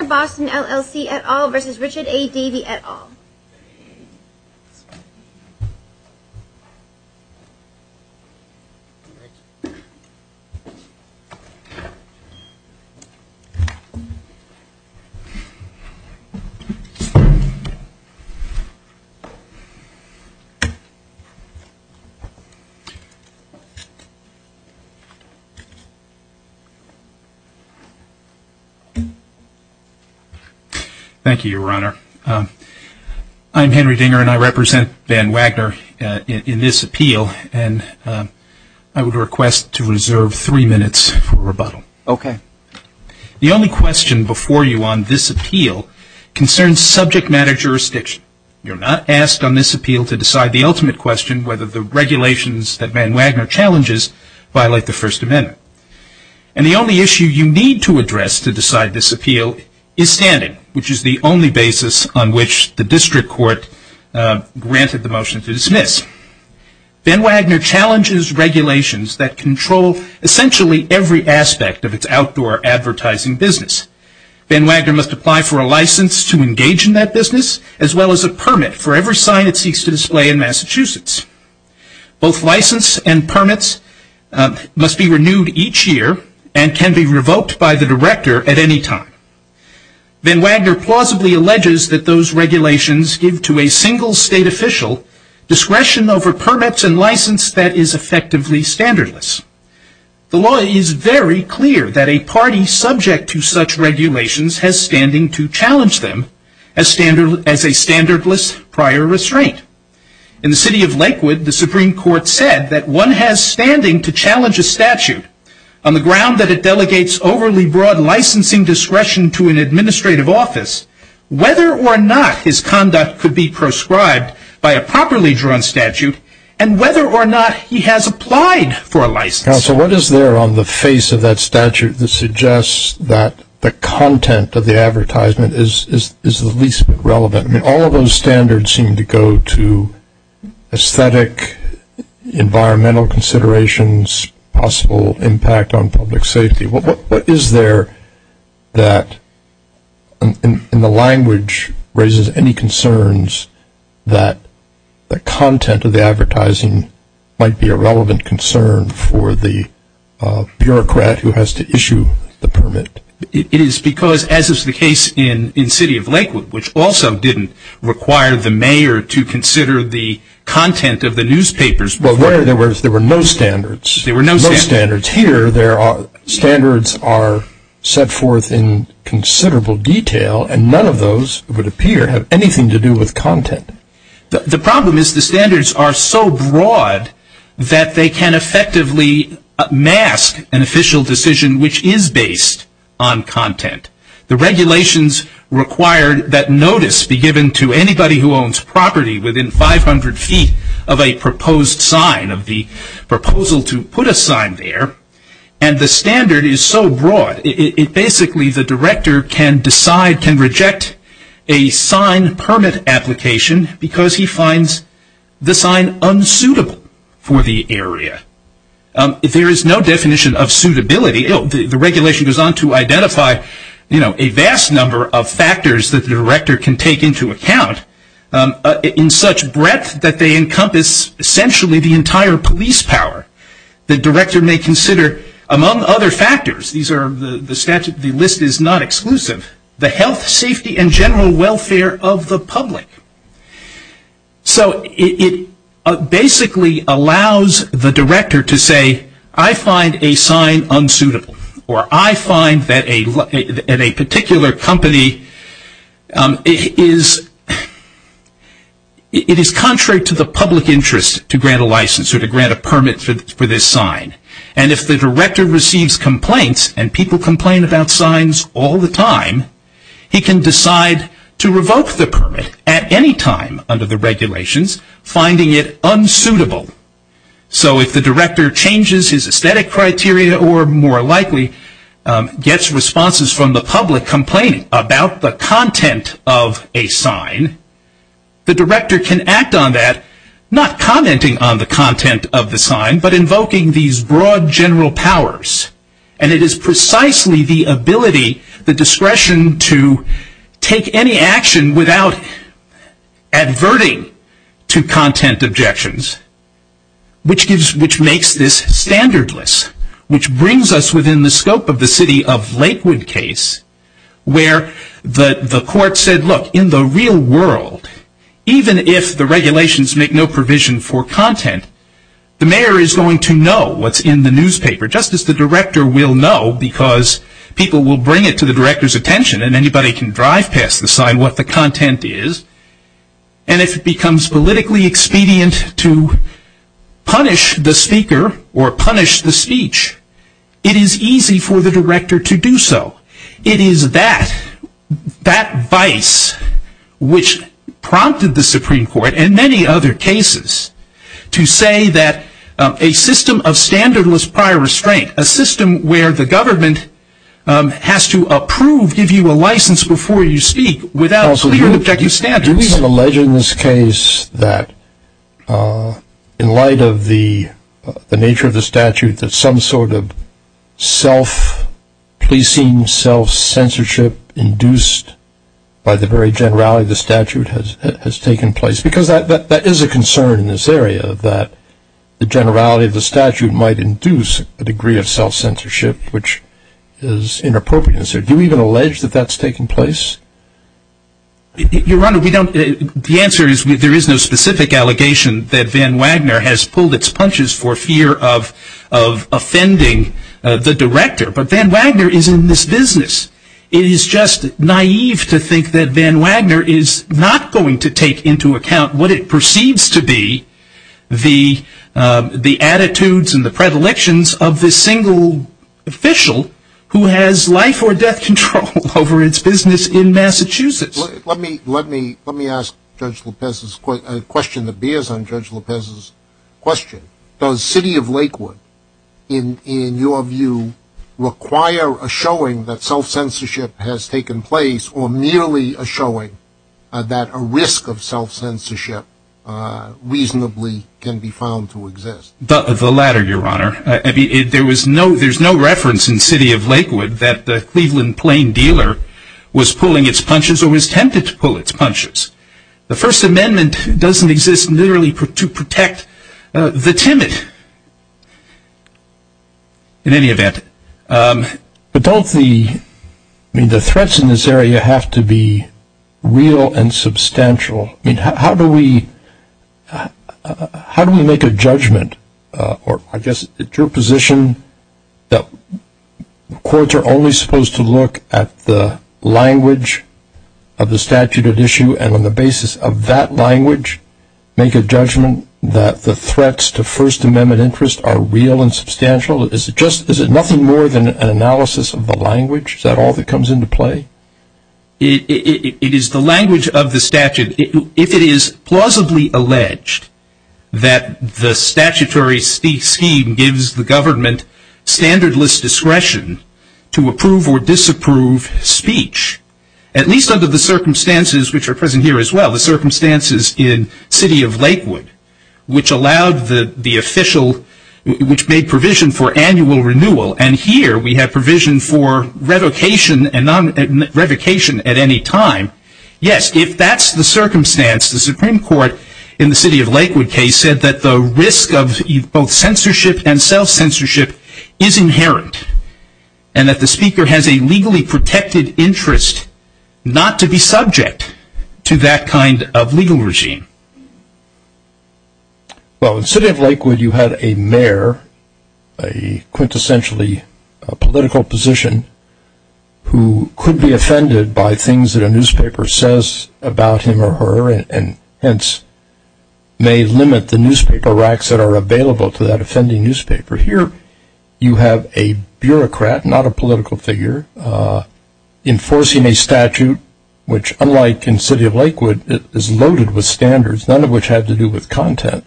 Wagner Boston, LLC, et al. v. Richard A. Davey, et al. Thank you, Your Honor. I'm Henry Dinger, and I represent Van Wagner in this appeal, and I would request to reserve three minutes for rebuttal. Okay. The only question before you on this appeal concerns subject matter jurisdiction. You're not asked on this appeal to decide the ultimate question, whether the regulations that Van Wagner challenges violate the First Amendment. And the only issue you need to address to decide this appeal is standing, which is the only basis on which the district court granted the motion to dismiss. Van Wagner challenges regulations that control essentially every aspect of its outdoor advertising business. Van Wagner must apply for a license to engage in that business, as well as a permit for every sign it seeks to display in Massachusetts. Both license and permits must be renewed each year and can be revoked by the director at any time. Van Wagner plausibly alleges that those regulations give to a single state official discretion over permits and license that is effectively standardless. The law is very clear that a party subject to such regulations has standing to challenge them as a standardless prior restraint. In the city of Lakewood, the Supreme Court said that one has standing to challenge a statute on the ground that it delegates overly broad licensing discretion to an administrative office, whether or not his conduct could be proscribed by a properly drawn statute, and whether or not he has applied for a license. Counsel, what is there on the face of that statute that suggests that the content of the advertisement is the least relevant? I mean, all of those standards seem to go to aesthetic, environmental considerations, possible impact on public safety. What is there that in the language raises any concerns that the content of the advertising might be a relevant concern for the bureaucrat who has to issue the permit? It is because, as is the case in the city of Lakewood, which also didn't require the mayor to consider the content of the newspapers. Well, there were no standards. There were no standards. Here, standards are set forth in considerable detail, and none of those, it would appear, have anything to do with content. The problem is the standards are so broad that they can effectively mask an official decision which is based on content. The regulations require that notice be given to anybody who owns property within 500 feet of a proposed sign, of the proposal to put a sign there, and the standard is so broad. Basically, the director can decide, can reject a sign permit application because he finds the sign unsuitable for the area. There is no definition of suitability. The regulation goes on to identify a vast number of factors that the director can take into account in such breadth that they encompass essentially the entire police power. The director may consider, among other factors, the list is not exclusive, the health, safety, and general welfare of the public. So, it basically allows the director to say, I find a sign unsuitable, or I find that a particular company, it is contrary to the public interest to grant a license or to grant a permit for this sign. And if the director receives complaints, and people complain about signs all the time, he can decide to revoke the permit at any time under the regulations, finding it unsuitable. So, if the director changes his aesthetic criteria or more likely gets responses from the public complaining about the content of a sign, the director can act on that, not commenting on the content of the sign, but invoking these broad general powers. And it is precisely the ability, the discretion to take any action without adverting to content objections, which makes this standardless. Which brings us within the scope of the city of Lakewood case, where the court said, look, in the real world, even if the regulations make no provision for content, the mayor is going to know what's in the newspaper, just as the director will know, because people will bring it to the director's attention and anybody can drive past the sign what the content is. And if it becomes politically expedient to punish the speaker or punish the speech, it is easy for the director to do so. It is that vice which prompted the Supreme Court and many other cases to say that a system of standardless prior restraint, a system where the government has to approve, give you a license before you speak, without clear and objective standards. It is alleged in this case that in light of the nature of the statute, that some sort of self-pleasing, self-censorship induced by the very generality of the statute has taken place. Because that is a concern in this area, that the generality of the statute might induce a degree of self-censorship, which is inappropriate. Do you even allege that that's taking place? Your Honor, the answer is there is no specific allegation that Van Wagner has pulled its punches for fear of offending the director. But Van Wagner is in this business. It is just naive to think that Van Wagner is not going to take into account what it perceives to be the attitudes and the predilections of this single official who has life or death control over its business in Massachusetts. Let me ask Judge Lopez a question that bears on Judge Lopez's question. Does City of Lakewood, in your view, require a showing that self-censorship has taken place, or merely a showing that a risk of self-censorship reasonably can be found to exist? The latter, Your Honor. There's no reference in City of Lakewood that the Cleveland Plain dealer was pulling its punches or was tempted to pull its punches. The First Amendment doesn't exist merely to protect the timid, in any event. But don't the threats in this area have to be real and substantial? I mean, how do we make a judgment, or I guess it's your position that courts are only supposed to look at the language of the statute at issue, and on the basis of that language, make a judgment that the threats to First Amendment interest are real and substantial? Is it nothing more than an analysis of the language? Is that all that comes into play? It is the language of the statute. If it is plausibly alleged that the statutory scheme gives the government standardless discretion to approve or disapprove speech, at least under the circumstances which are present here as well, the circumstances in City of Lakewood, which made provision for annual renewal, and here we have provision for revocation at any time, yes, if that's the circumstance, the Supreme Court in the City of Lakewood case said that the risk of both censorship and self-censorship is inherent, and that the speaker has a legally protected interest not to be subject to that kind of legal regime. Well, in City of Lakewood you had a mayor, a quintessentially political position, who could be offended by things that a newspaper says about him or her, and hence may limit the newspaper racks that are available to that offending newspaper. Here you have a bureaucrat, not a political figure, enforcing a statute which, unlike in City of Lakewood, is loaded with standards, none of which have to do with content.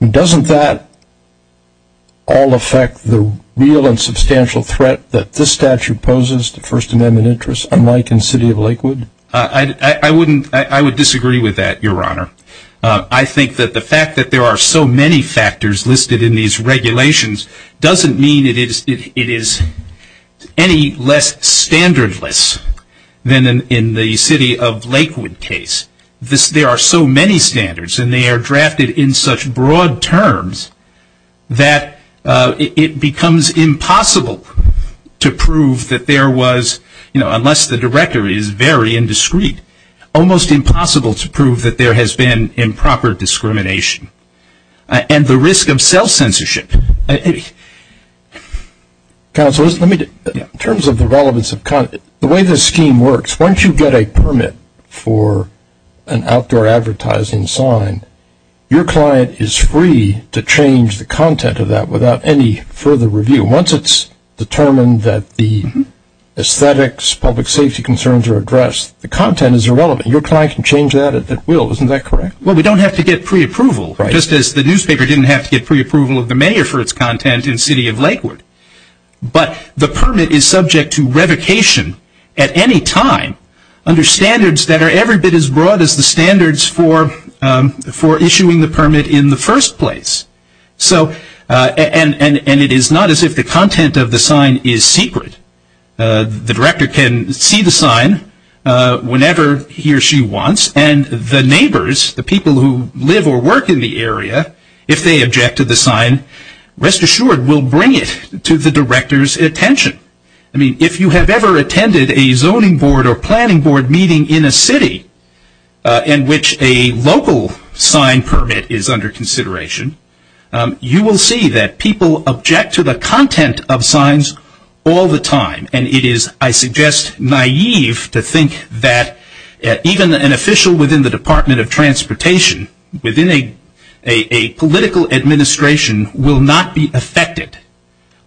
Doesn't that all affect the real and substantial threat that this statute poses to First Amendment interest, unlike in City of Lakewood? I would disagree with that, Your Honor. I think that the fact that there are so many factors listed in these regulations doesn't mean it is any less standardless than in the City of Lakewood case. There are so many standards, and they are drafted in such broad terms that it becomes impossible to prove that there was, unless the directory is very indiscreet, almost impossible to prove that there has been improper discrimination. And the risk of self-censorship. Counselors, in terms of the relevance of content, the way this scheme works, once you get a permit for an outdoor advertising sign, your client is free to change the content of that without any further review. Once it's determined that the aesthetics, public safety concerns are addressed, the content is irrelevant. Your client can change that at will, isn't that correct? Well, we don't have to get pre-approval, just as the newspaper didn't have to get pre-approval of the mayor for its content in City of Lakewood. But the permit is subject to revocation at any time under standards that are every bit as broad as the standards for issuing the permit in the first place. And it is not as if the content of the sign is secret. The director can see the sign whenever he or she wants, and the neighbors, the people who live or work in the area, if they object to the sign, rest assured, will bring it to the director's attention. I mean, if you have ever attended a zoning board or planning board meeting in a city in which a local sign permit is under consideration, you will see that people object to the content of signs all the time. And it is, I suggest, naive to think that even an official within the Department of Transportation, within a political administration, will not be affected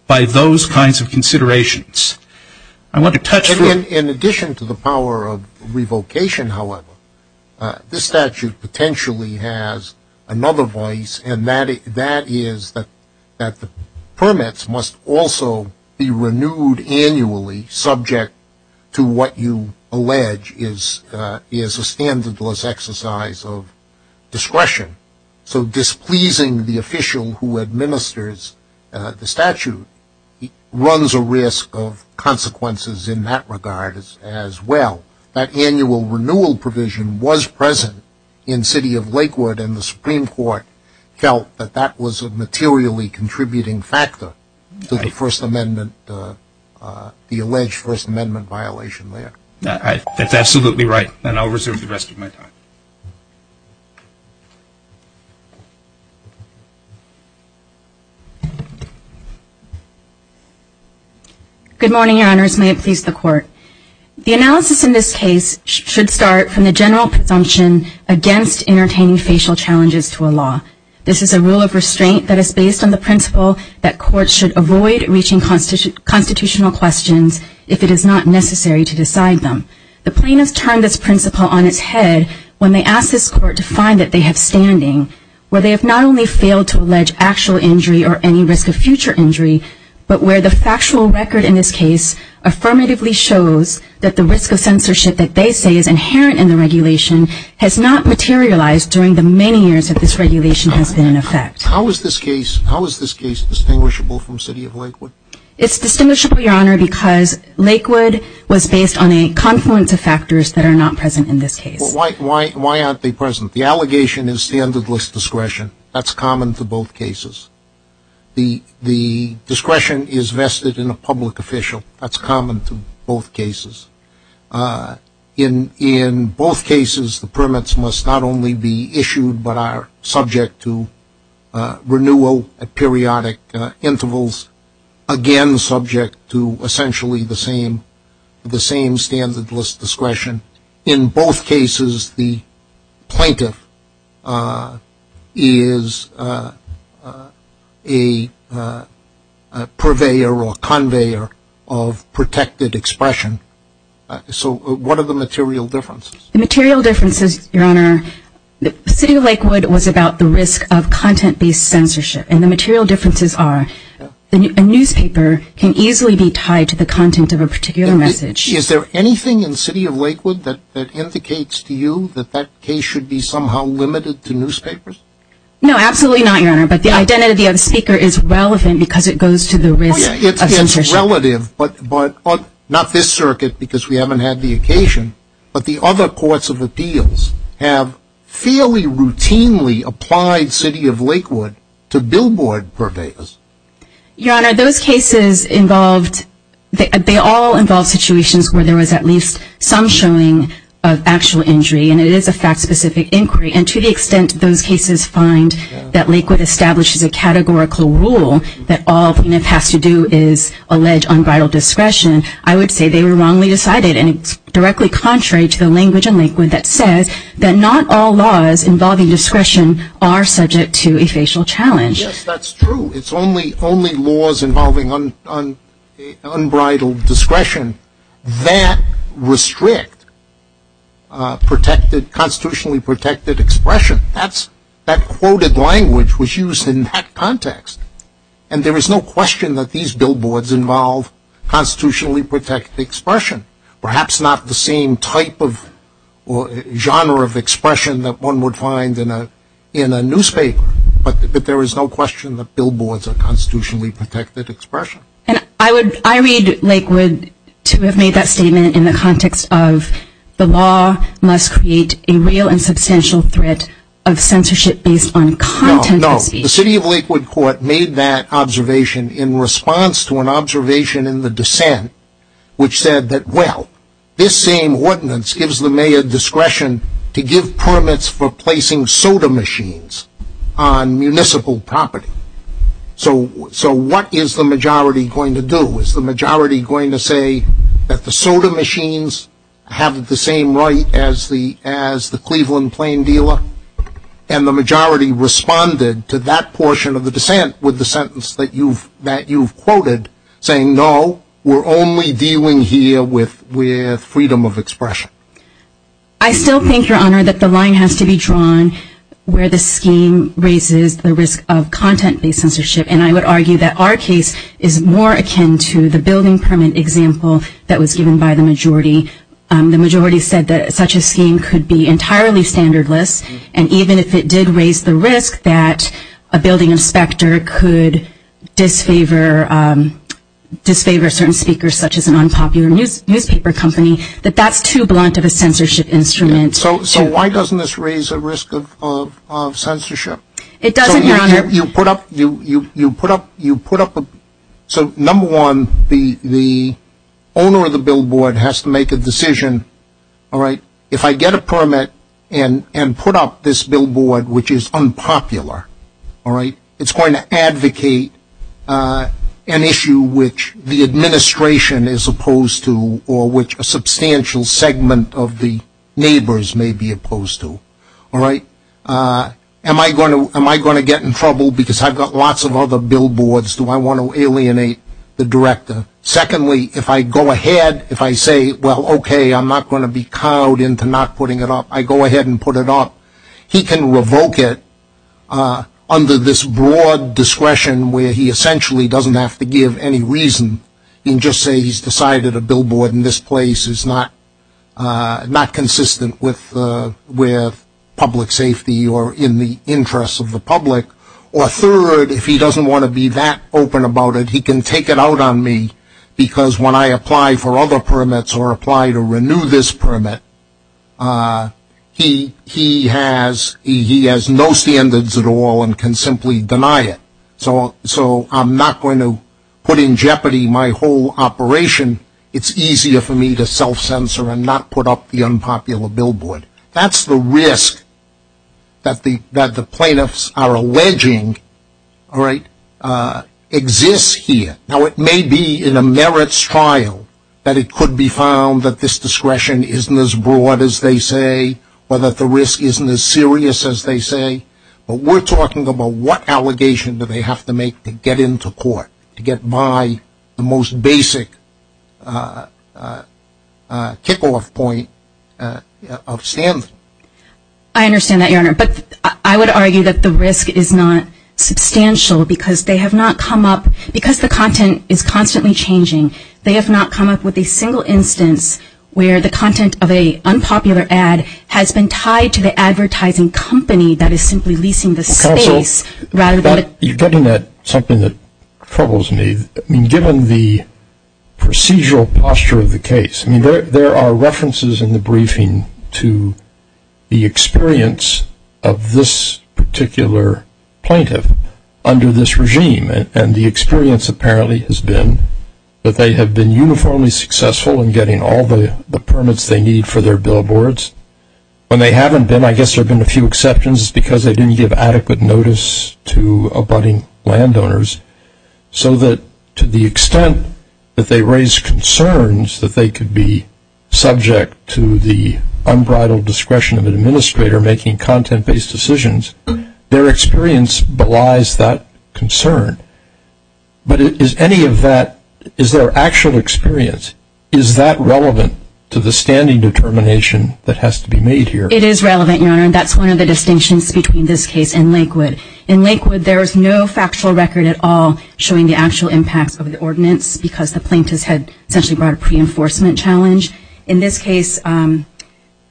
by those kinds of considerations. In addition to the power of revocation, however, this statute potentially has another voice, and that is that the permits must also be renewed annually, subject to what you allege is a standardless exercise of discretion. So displeasing the official who administers the statute runs a risk of consequences in that regard as well. That annual renewal provision was present in City of Lakewood, and the Supreme Court felt that that was a materially contributing factor to the First Amendment, the alleged First Amendment violation there. That's absolutely right, and I'll reserve the rest of my time. Good morning, Your Honors. May it please the Court. The analysis in this case should start from the general presumption against entertaining facial challenges to a law. This is a rule of restraint that is based on the principle that courts should avoid reaching constitutional questions if it is not necessary to decide them. The plaintiffs turned this principle on its head when they asked this Court to find that they have standing where they have not only failed to allege actual injury or any risk of future injury, but where the factual record in this case affirmatively shows that the risk of censorship that they say is inherent in the regulation has not materialized during the many years that this regulation has been in effect. How is this case distinguishable from City of Lakewood? It's distinguishable, Your Honor, because Lakewood was based on a confluence of factors that are not present in this case. Why aren't they present? The allegation is standardless discretion. That's common to both cases. The discretion is vested in a public official. That's common to both cases. In both cases, the permits must not only be issued but are subject to renewal at periodic intervals, again subject to essentially the same standardless discretion. In both cases, the plaintiff is a purveyor or conveyor of protected expression. So what are the material differences? The material differences, Your Honor, City of Lakewood was about the risk of content-based censorship, and the material differences are a newspaper can easily be tied to the content of a particular message. Is there anything in City of Lakewood that indicates to you that that case should be somehow limited to newspapers? No, absolutely not, Your Honor, but the identity of the speaker is relevant because it goes to the risk of censorship. It's relative, but not this circuit because we haven't had the occasion, but the other courts of appeals have fairly routinely applied City of Lakewood to billboard purveyors. Your Honor, those cases involved, they all involved situations where there was at least some showing of actual injury, and it is a fact-specific inquiry, and to the extent those cases find that Lakewood establishes a categorical rule that all plaintiffs have to do is allege unbridled discretion, I would say they were wrongly decided, and it's directly contrary to the language in Lakewood that says that not all laws involving discretion are subject to a facial challenge. Yes, that's true. It's only laws involving unbridled discretion that restrict constitutionally protected expression. That quoted language was used in that context, and there is no question that these billboards involve constitutionally protected expression, perhaps not the same type or genre of expression that one would find in a newspaper, but there is no question that billboards are constitutionally protected expression. I read Lakewood to have made that statement in the context of the law must create a real and substantial threat of censorship based on content of speech. No, no. The City of Lakewood Court made that observation in response to an observation in the dissent, which said that, well, this same ordinance gives the mayor discretion to give permits for placing soda machines. on municipal property. So what is the majority going to do? Is the majority going to say that the soda machines have the same right as the Cleveland Plain dealer? And the majority responded to that portion of the dissent with the sentence that you've quoted saying, no, we're only dealing here with freedom of expression. I still think, Your Honor, that the line has to be drawn where the scheme raises the risk of content-based censorship, and I would argue that our case is more akin to the building permit example that was given by the majority. The majority said that such a scheme could be entirely standardless, and even if it did raise the risk that a building inspector could disfavor certain speakers such as an unpopular newspaper company, that that's too blunt of a censorship instrument. So why doesn't this raise a risk of censorship? It doesn't, Your Honor. So you put up, so number one, the owner of the billboard has to make a decision, all right, if I get a permit and put up this billboard which is unpopular, all right, it's going to advocate an issue which the administration is opposed to or which a substantial segment of the neighbors may be opposed to, all right. Am I going to get in trouble because I've got lots of other billboards? Do I want to alienate the director? Secondly, if I go ahead, if I say, well, okay, I'm not going to be cowed into not putting it up, I go ahead and put it up, he can revoke it under this broad discretion where he essentially doesn't have to give any reason. He can just say he's decided a billboard in this place is not consistent with public safety or in the interest of the public. Or third, if he doesn't want to be that open about it, he can take it out on me because when I apply for other permits or apply to renew this permit, he has no standards at all and can simply deny it. So I'm not going to put in jeopardy my whole operation. It's easier for me to self-censor and not put up the unpopular billboard. That's the risk that the plaintiffs are alleging, all right, exists here. Now, it may be in a merits trial that it could be found that this discretion isn't as broad as they say or that the risk isn't as serious as they say, but we're talking about what allegation do they have to make to get into court to get by the most basic kickoff point of standing. I understand that, Your Honor, but I would argue that the risk is not substantial because they have not come up, because the content is constantly changing, they have not come up with a single instance where the content of an unpopular ad has been tied to the advertising company that is simply leasing the space. Counsel, you're getting at something that troubles me. Given the procedural posture of the case, there are references in the briefing to the experience of this particular plaintiff under this regime, and the experience apparently has been that they have been uniformly successful in getting all the permits they need for their billboards. When they haven't been, I guess there have been a few exceptions, it's because they didn't give adequate notice to abutting landowners, so that to the extent that they raise concerns that they could be subject to the unbridled discretion of an administrator making content-based decisions, their experience belies that concern. But is any of that, is their actual experience, is that relevant to the standing determination that has to be made here? It is relevant, Your Honor, and that's one of the distinctions between this case and Lakewood. In Lakewood, there is no factual record at all showing the actual impacts of the ordinance because the plaintiffs had essentially brought a pre-enforcement challenge. In this case,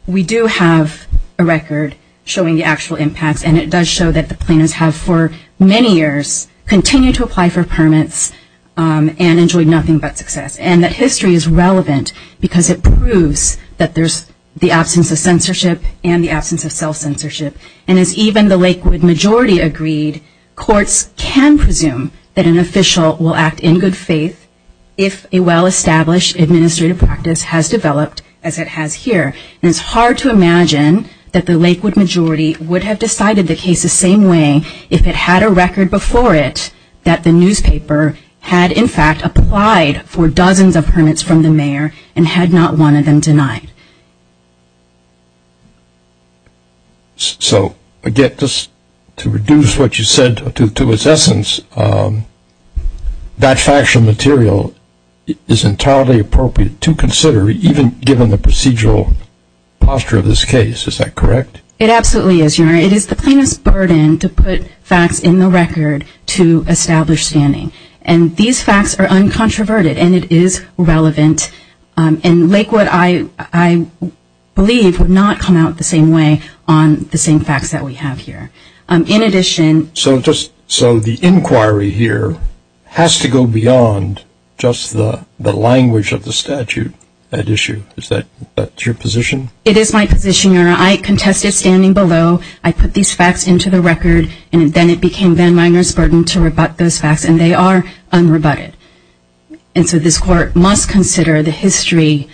we do have a record showing the actual impacts, and it does show that the plaintiffs have for many years continued to apply for permits and enjoyed nothing but success, and that history is relevant because it proves that there's the absence of censorship and the absence of self-censorship. And as even the Lakewood majority agreed, courts can presume that an official will act in good faith if a well-established administrative practice has developed as it has here. And it's hard to imagine that the Lakewood majority would have decided the case the same way if it had a record before it that the newspaper had, in fact, applied for dozens of permits from the mayor and had not wanted them denied. So, again, just to reduce what you said to its essence, that factual material is entirely appropriate to consider, even given the procedural posture of this case. Is that correct? It absolutely is, Your Honor. It is the plaintiff's burden to put facts in the record to establish standing. And these facts are uncontroverted, and it is relevant. And Lakewood, I believe, would not come out the same way on the same facts that we have here. So the inquiry here has to go beyond just the language of the statute at issue. Is that your position? It is my position, Your Honor. I contested standing below. I put these facts into the record, and then it became Van Wijners' burden to rebut those facts, and they are unrebutted. And so this court must consider the history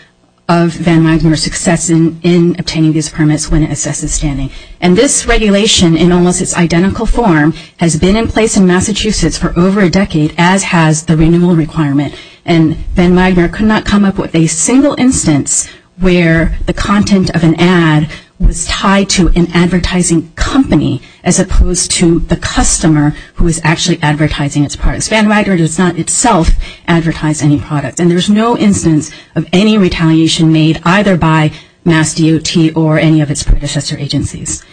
of Van Wijners' success in obtaining these permits when it assesses standing. And this regulation, in almost its identical form, has been in place in Massachusetts for over a decade, as has the renewal requirement. And Van Wijners could not come up with a single instance where the content of an ad was tied to an advertising company as opposed to the customer who is actually advertising its products. Van Wijners does not itself advertise any product, and there is no instance of any retaliation made either by MassDOT or any of its predecessor agencies.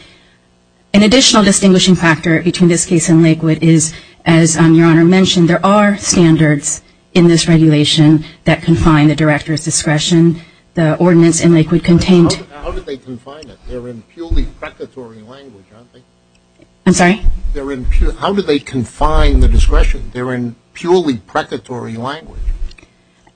An additional distinguishing factor between this case and Lakewood is, as Your Honor mentioned, there are standards in this regulation that confine the director's discretion, the ordinance in Lakewood contained. How do they confine it? They're in purely precatory language, aren't they? I'm sorry? How do they confine the discretion? They're in purely precatory language.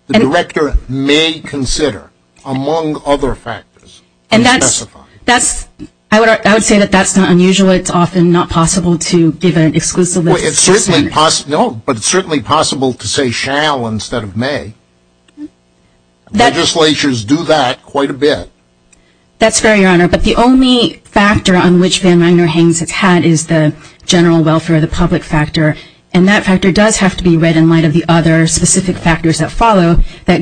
The director may consider, among other factors, to specify. I would say that that's not unusual. It's often not possible to give an exclusive list of standards. No, but it's certainly possible to say shall instead of may. Legislatures do that quite a bit. That's fair, Your Honor. But the only factor on which Van Wijners hangs its hat is the general welfare, the public factor. And that factor does have to be read in light of the other specific factors that follow that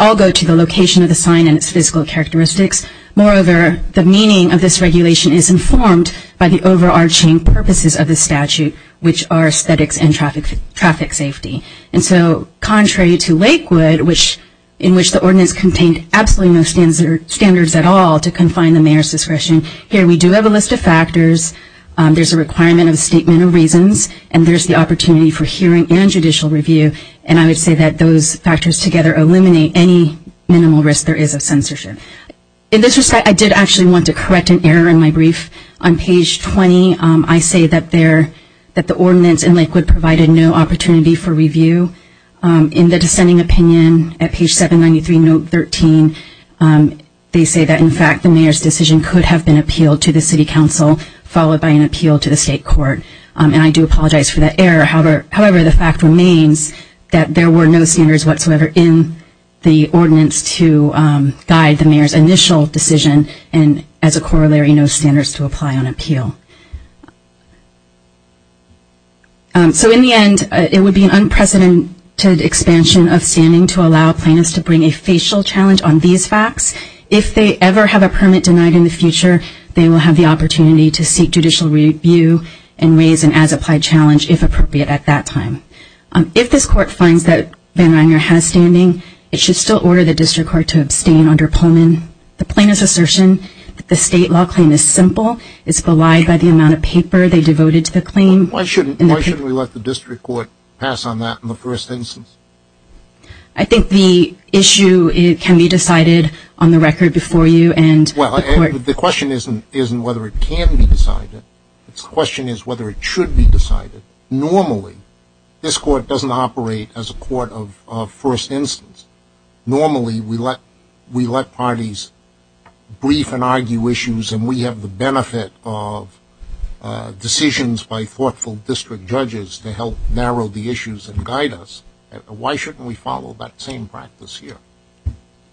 all go to the location of the sign and its physical characteristics. Moreover, the meaning of this regulation is informed by the overarching purposes of the statute, which are aesthetics and traffic safety. And so contrary to Lakewood, in which the ordinance contained absolutely no standards at all to confine the mayor's discretion, here we do have a list of factors. There's a requirement of a statement of reasons. And there's the opportunity for hearing and judicial review. And I would say that those factors together eliminate any minimal risk there is of censorship. In this respect, I did actually want to correct an error in my brief. On page 20, I say that the ordinance in Lakewood provided no opportunity for review. In the dissenting opinion at page 793, note 13, they say that, in fact, the mayor's decision could have been appealed to the city council, followed by an appeal to the state court. And I do apologize for that error. However, the fact remains that there were no standards whatsoever in the ordinance to guide the mayor's initial decision, and as a corollary, no standards to apply on appeal. So in the end, it would be an unprecedented expansion of standing to allow plaintiffs to bring a facial challenge on these facts. If they ever have a permit denied in the future, they will have the opportunity to seek judicial review and raise an as-applied challenge, if appropriate, at that time. If this court finds that Van Miner has standing, it should still order the district court to abstain under Pullman. The plaintiff's assertion that the state law claim is simple is belied by the amount of paper they devoted to the claim. Why shouldn't we let the district court pass on that in the first instance? I think the issue can be decided on the record before you. Well, the question isn't whether it can be decided. The question is whether it should be decided. Normally, this court doesn't operate as a court of first instance. Normally, we let parties brief and argue issues, and we have the benefit of decisions by thoughtful district judges to help narrow the issues and guide us. Why shouldn't we follow that same practice here?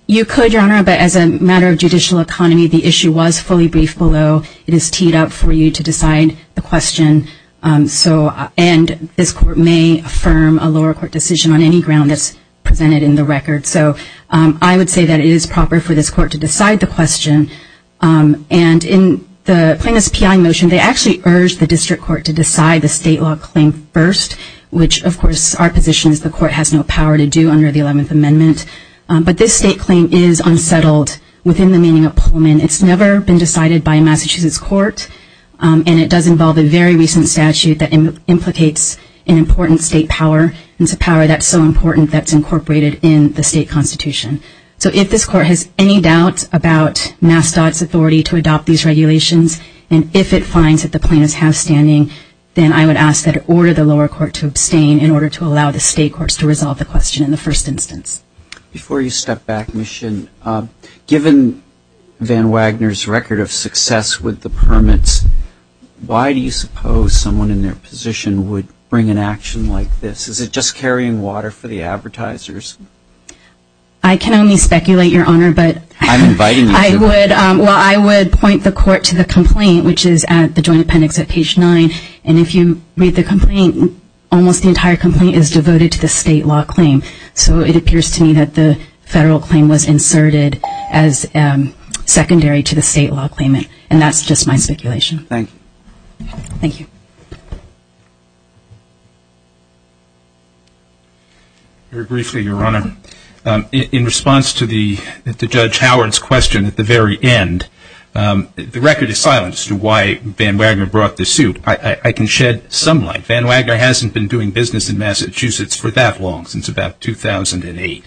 You could, Your Honor, but as a matter of judicial economy, the issue was fully briefed below. It is teed up for you to decide the question, and this court may affirm a lower court decision on any ground that's presented in the record. So I would say that it is proper for this court to decide the question. And in the plaintiff's PI motion, they actually urged the district court to decide the state law claim first, which, of course, our position is the court has no power to do under the 11th Amendment. But this state claim is unsettled within the meaning of Pullman. It's never been decided by Massachusetts court, and it does involve a very recent statute that implicates an important state power. It's a power that's so important that it's incorporated in the state constitution. So if this court has any doubt about MassDOT's authority to adopt these regulations and if it finds that the plaintiffs have standing, then I would ask that it order the lower court to abstain in order to allow the state courts to resolve the question in the first instance. Before you step back, Mission, given Van Wagner's record of success with the permits, why do you suppose someone in their position would bring an action like this? Is it just carrying water for the advertisers? I can only speculate, Your Honor. I'm inviting you to. Well, I would point the court to the complaint, which is at the joint appendix at page 9, and if you read the complaint, almost the entire complaint is devoted to the state law claim. So it appears to me that the federal claim was inserted as secondary to the state law claim, and that's just my speculation. Thank you. Very briefly, Your Honor. In response to Judge Howard's question at the very end, the record is silent as to why Van Wagner brought the suit. I can shed some light. Van Wagner hasn't been doing business in Massachusetts for that long, since about 2008.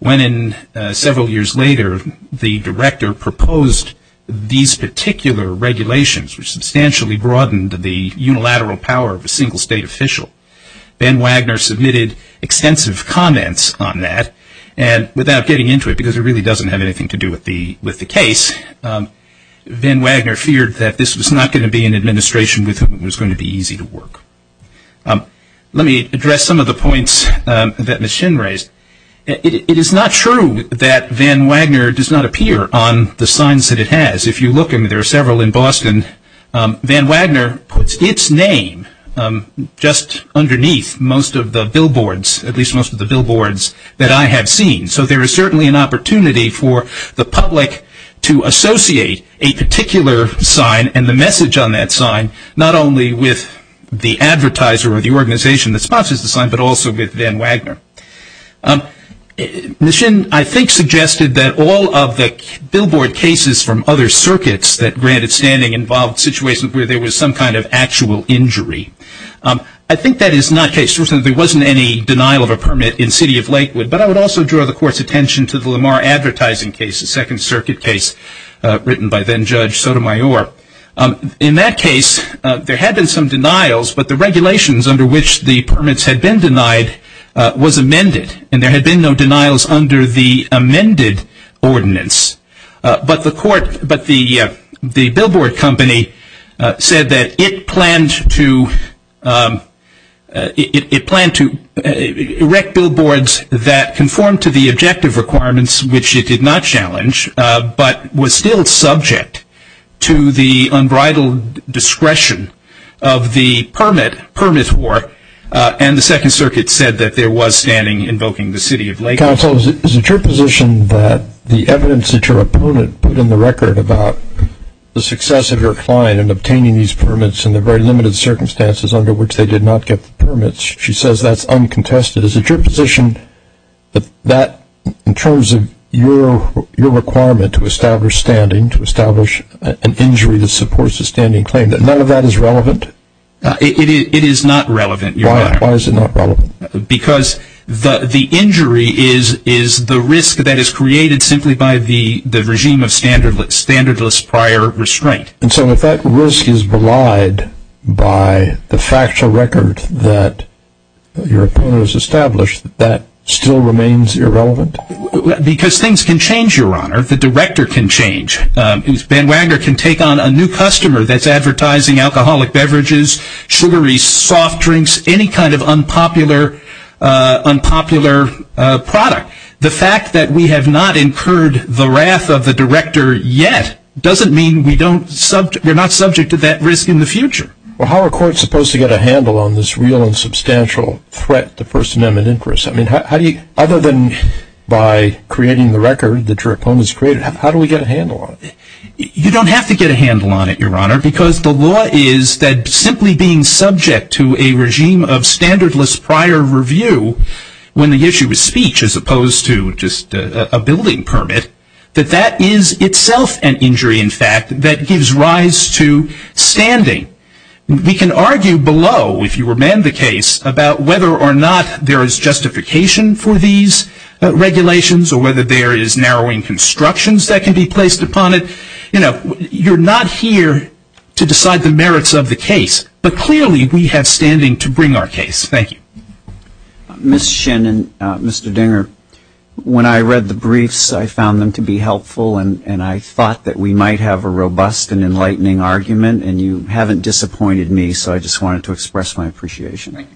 When several years later the director proposed these particular regulations, which substantially broadened the unilateral power of a single state official, Van Wagner submitted extensive comments on that. And without getting into it, because it really doesn't have anything to do with the case, Van Wagner feared that this was not going to be an administration with whom it was going to be easy to work. Let me address some of the points that Ms. Shin raised. It is not true that Van Wagner does not appear on the signs that it has. If you look, and there are several in Boston, Van Wagner puts its name just underneath most of the billboards, at least most of the billboards that I have seen. So there is certainly an opportunity for the public to associate a particular sign and the message on that sign not only with the advertiser or the organization that sponsors the sign, but also with Van Wagner. Ms. Shin, I think, suggested that all of the billboard cases from other circuits that granted standing involved situations where there was some kind of actual injury. I think that is not the case. Certainly there wasn't any denial of a permit in the city of Lakewood, but I would also draw the Court's attention to the Lamar advertising case, a Second Circuit case written by then Judge Sotomayor. In that case, there had been some denials, but the regulations under which the permits had been denied was amended, and there had been no denials under the amended ordinance. But the billboard company said that it planned to erect billboards that conformed to the objective requirements, which it did not challenge, but was still subject to the unbridled discretion of the permit war, and the Second Circuit said that there was standing invoking the city of Lakewood. Counsel, is it your position that the evidence that your opponent put in the record about the success of your client in obtaining these permits in the very limited circumstances under which they did not get the permits, she says that's uncontested. Is it your position that in terms of your requirement to establish standing, to establish an injury that supports a standing claim, that none of that is relevant? It is not relevant. Why is it not relevant? Because the injury is the risk that is created simply by the regime of standardless prior restraint. And so if that risk is belied by the factual record that your opponent has established, that still remains irrelevant? Because things can change, Your Honor. The director can change. Ben Wagner can take on a new customer that's advertising alcoholic beverages, sugary soft drinks, any kind of unpopular product. The fact that we have not incurred the wrath of the director yet doesn't mean we're not subject to that risk in the future. Well, how are courts supposed to get a handle on this real and substantial threat to First Amendment interests? I mean, other than by creating the record that your opponent has created, how do we get a handle on it? You don't have to get a handle on it, Your Honor, because the law is that simply being subject to a regime of standardless prior review when the issue is speech as opposed to just a building permit, that that is itself an injury, in fact, that gives rise to standing. We can argue below, if you remand the case, about whether or not there is justification for these regulations or whether there is narrowing constructions that can be placed upon it. You're not here to decide the merits of the case, but clearly we have standing to bring our case. Thank you. Ms. Shin and Mr. Dinger, when I read the briefs, I found them to be helpful, and I thought that we might have a robust and enlightening argument, and you haven't disappointed me, so I just wanted to express my appreciation.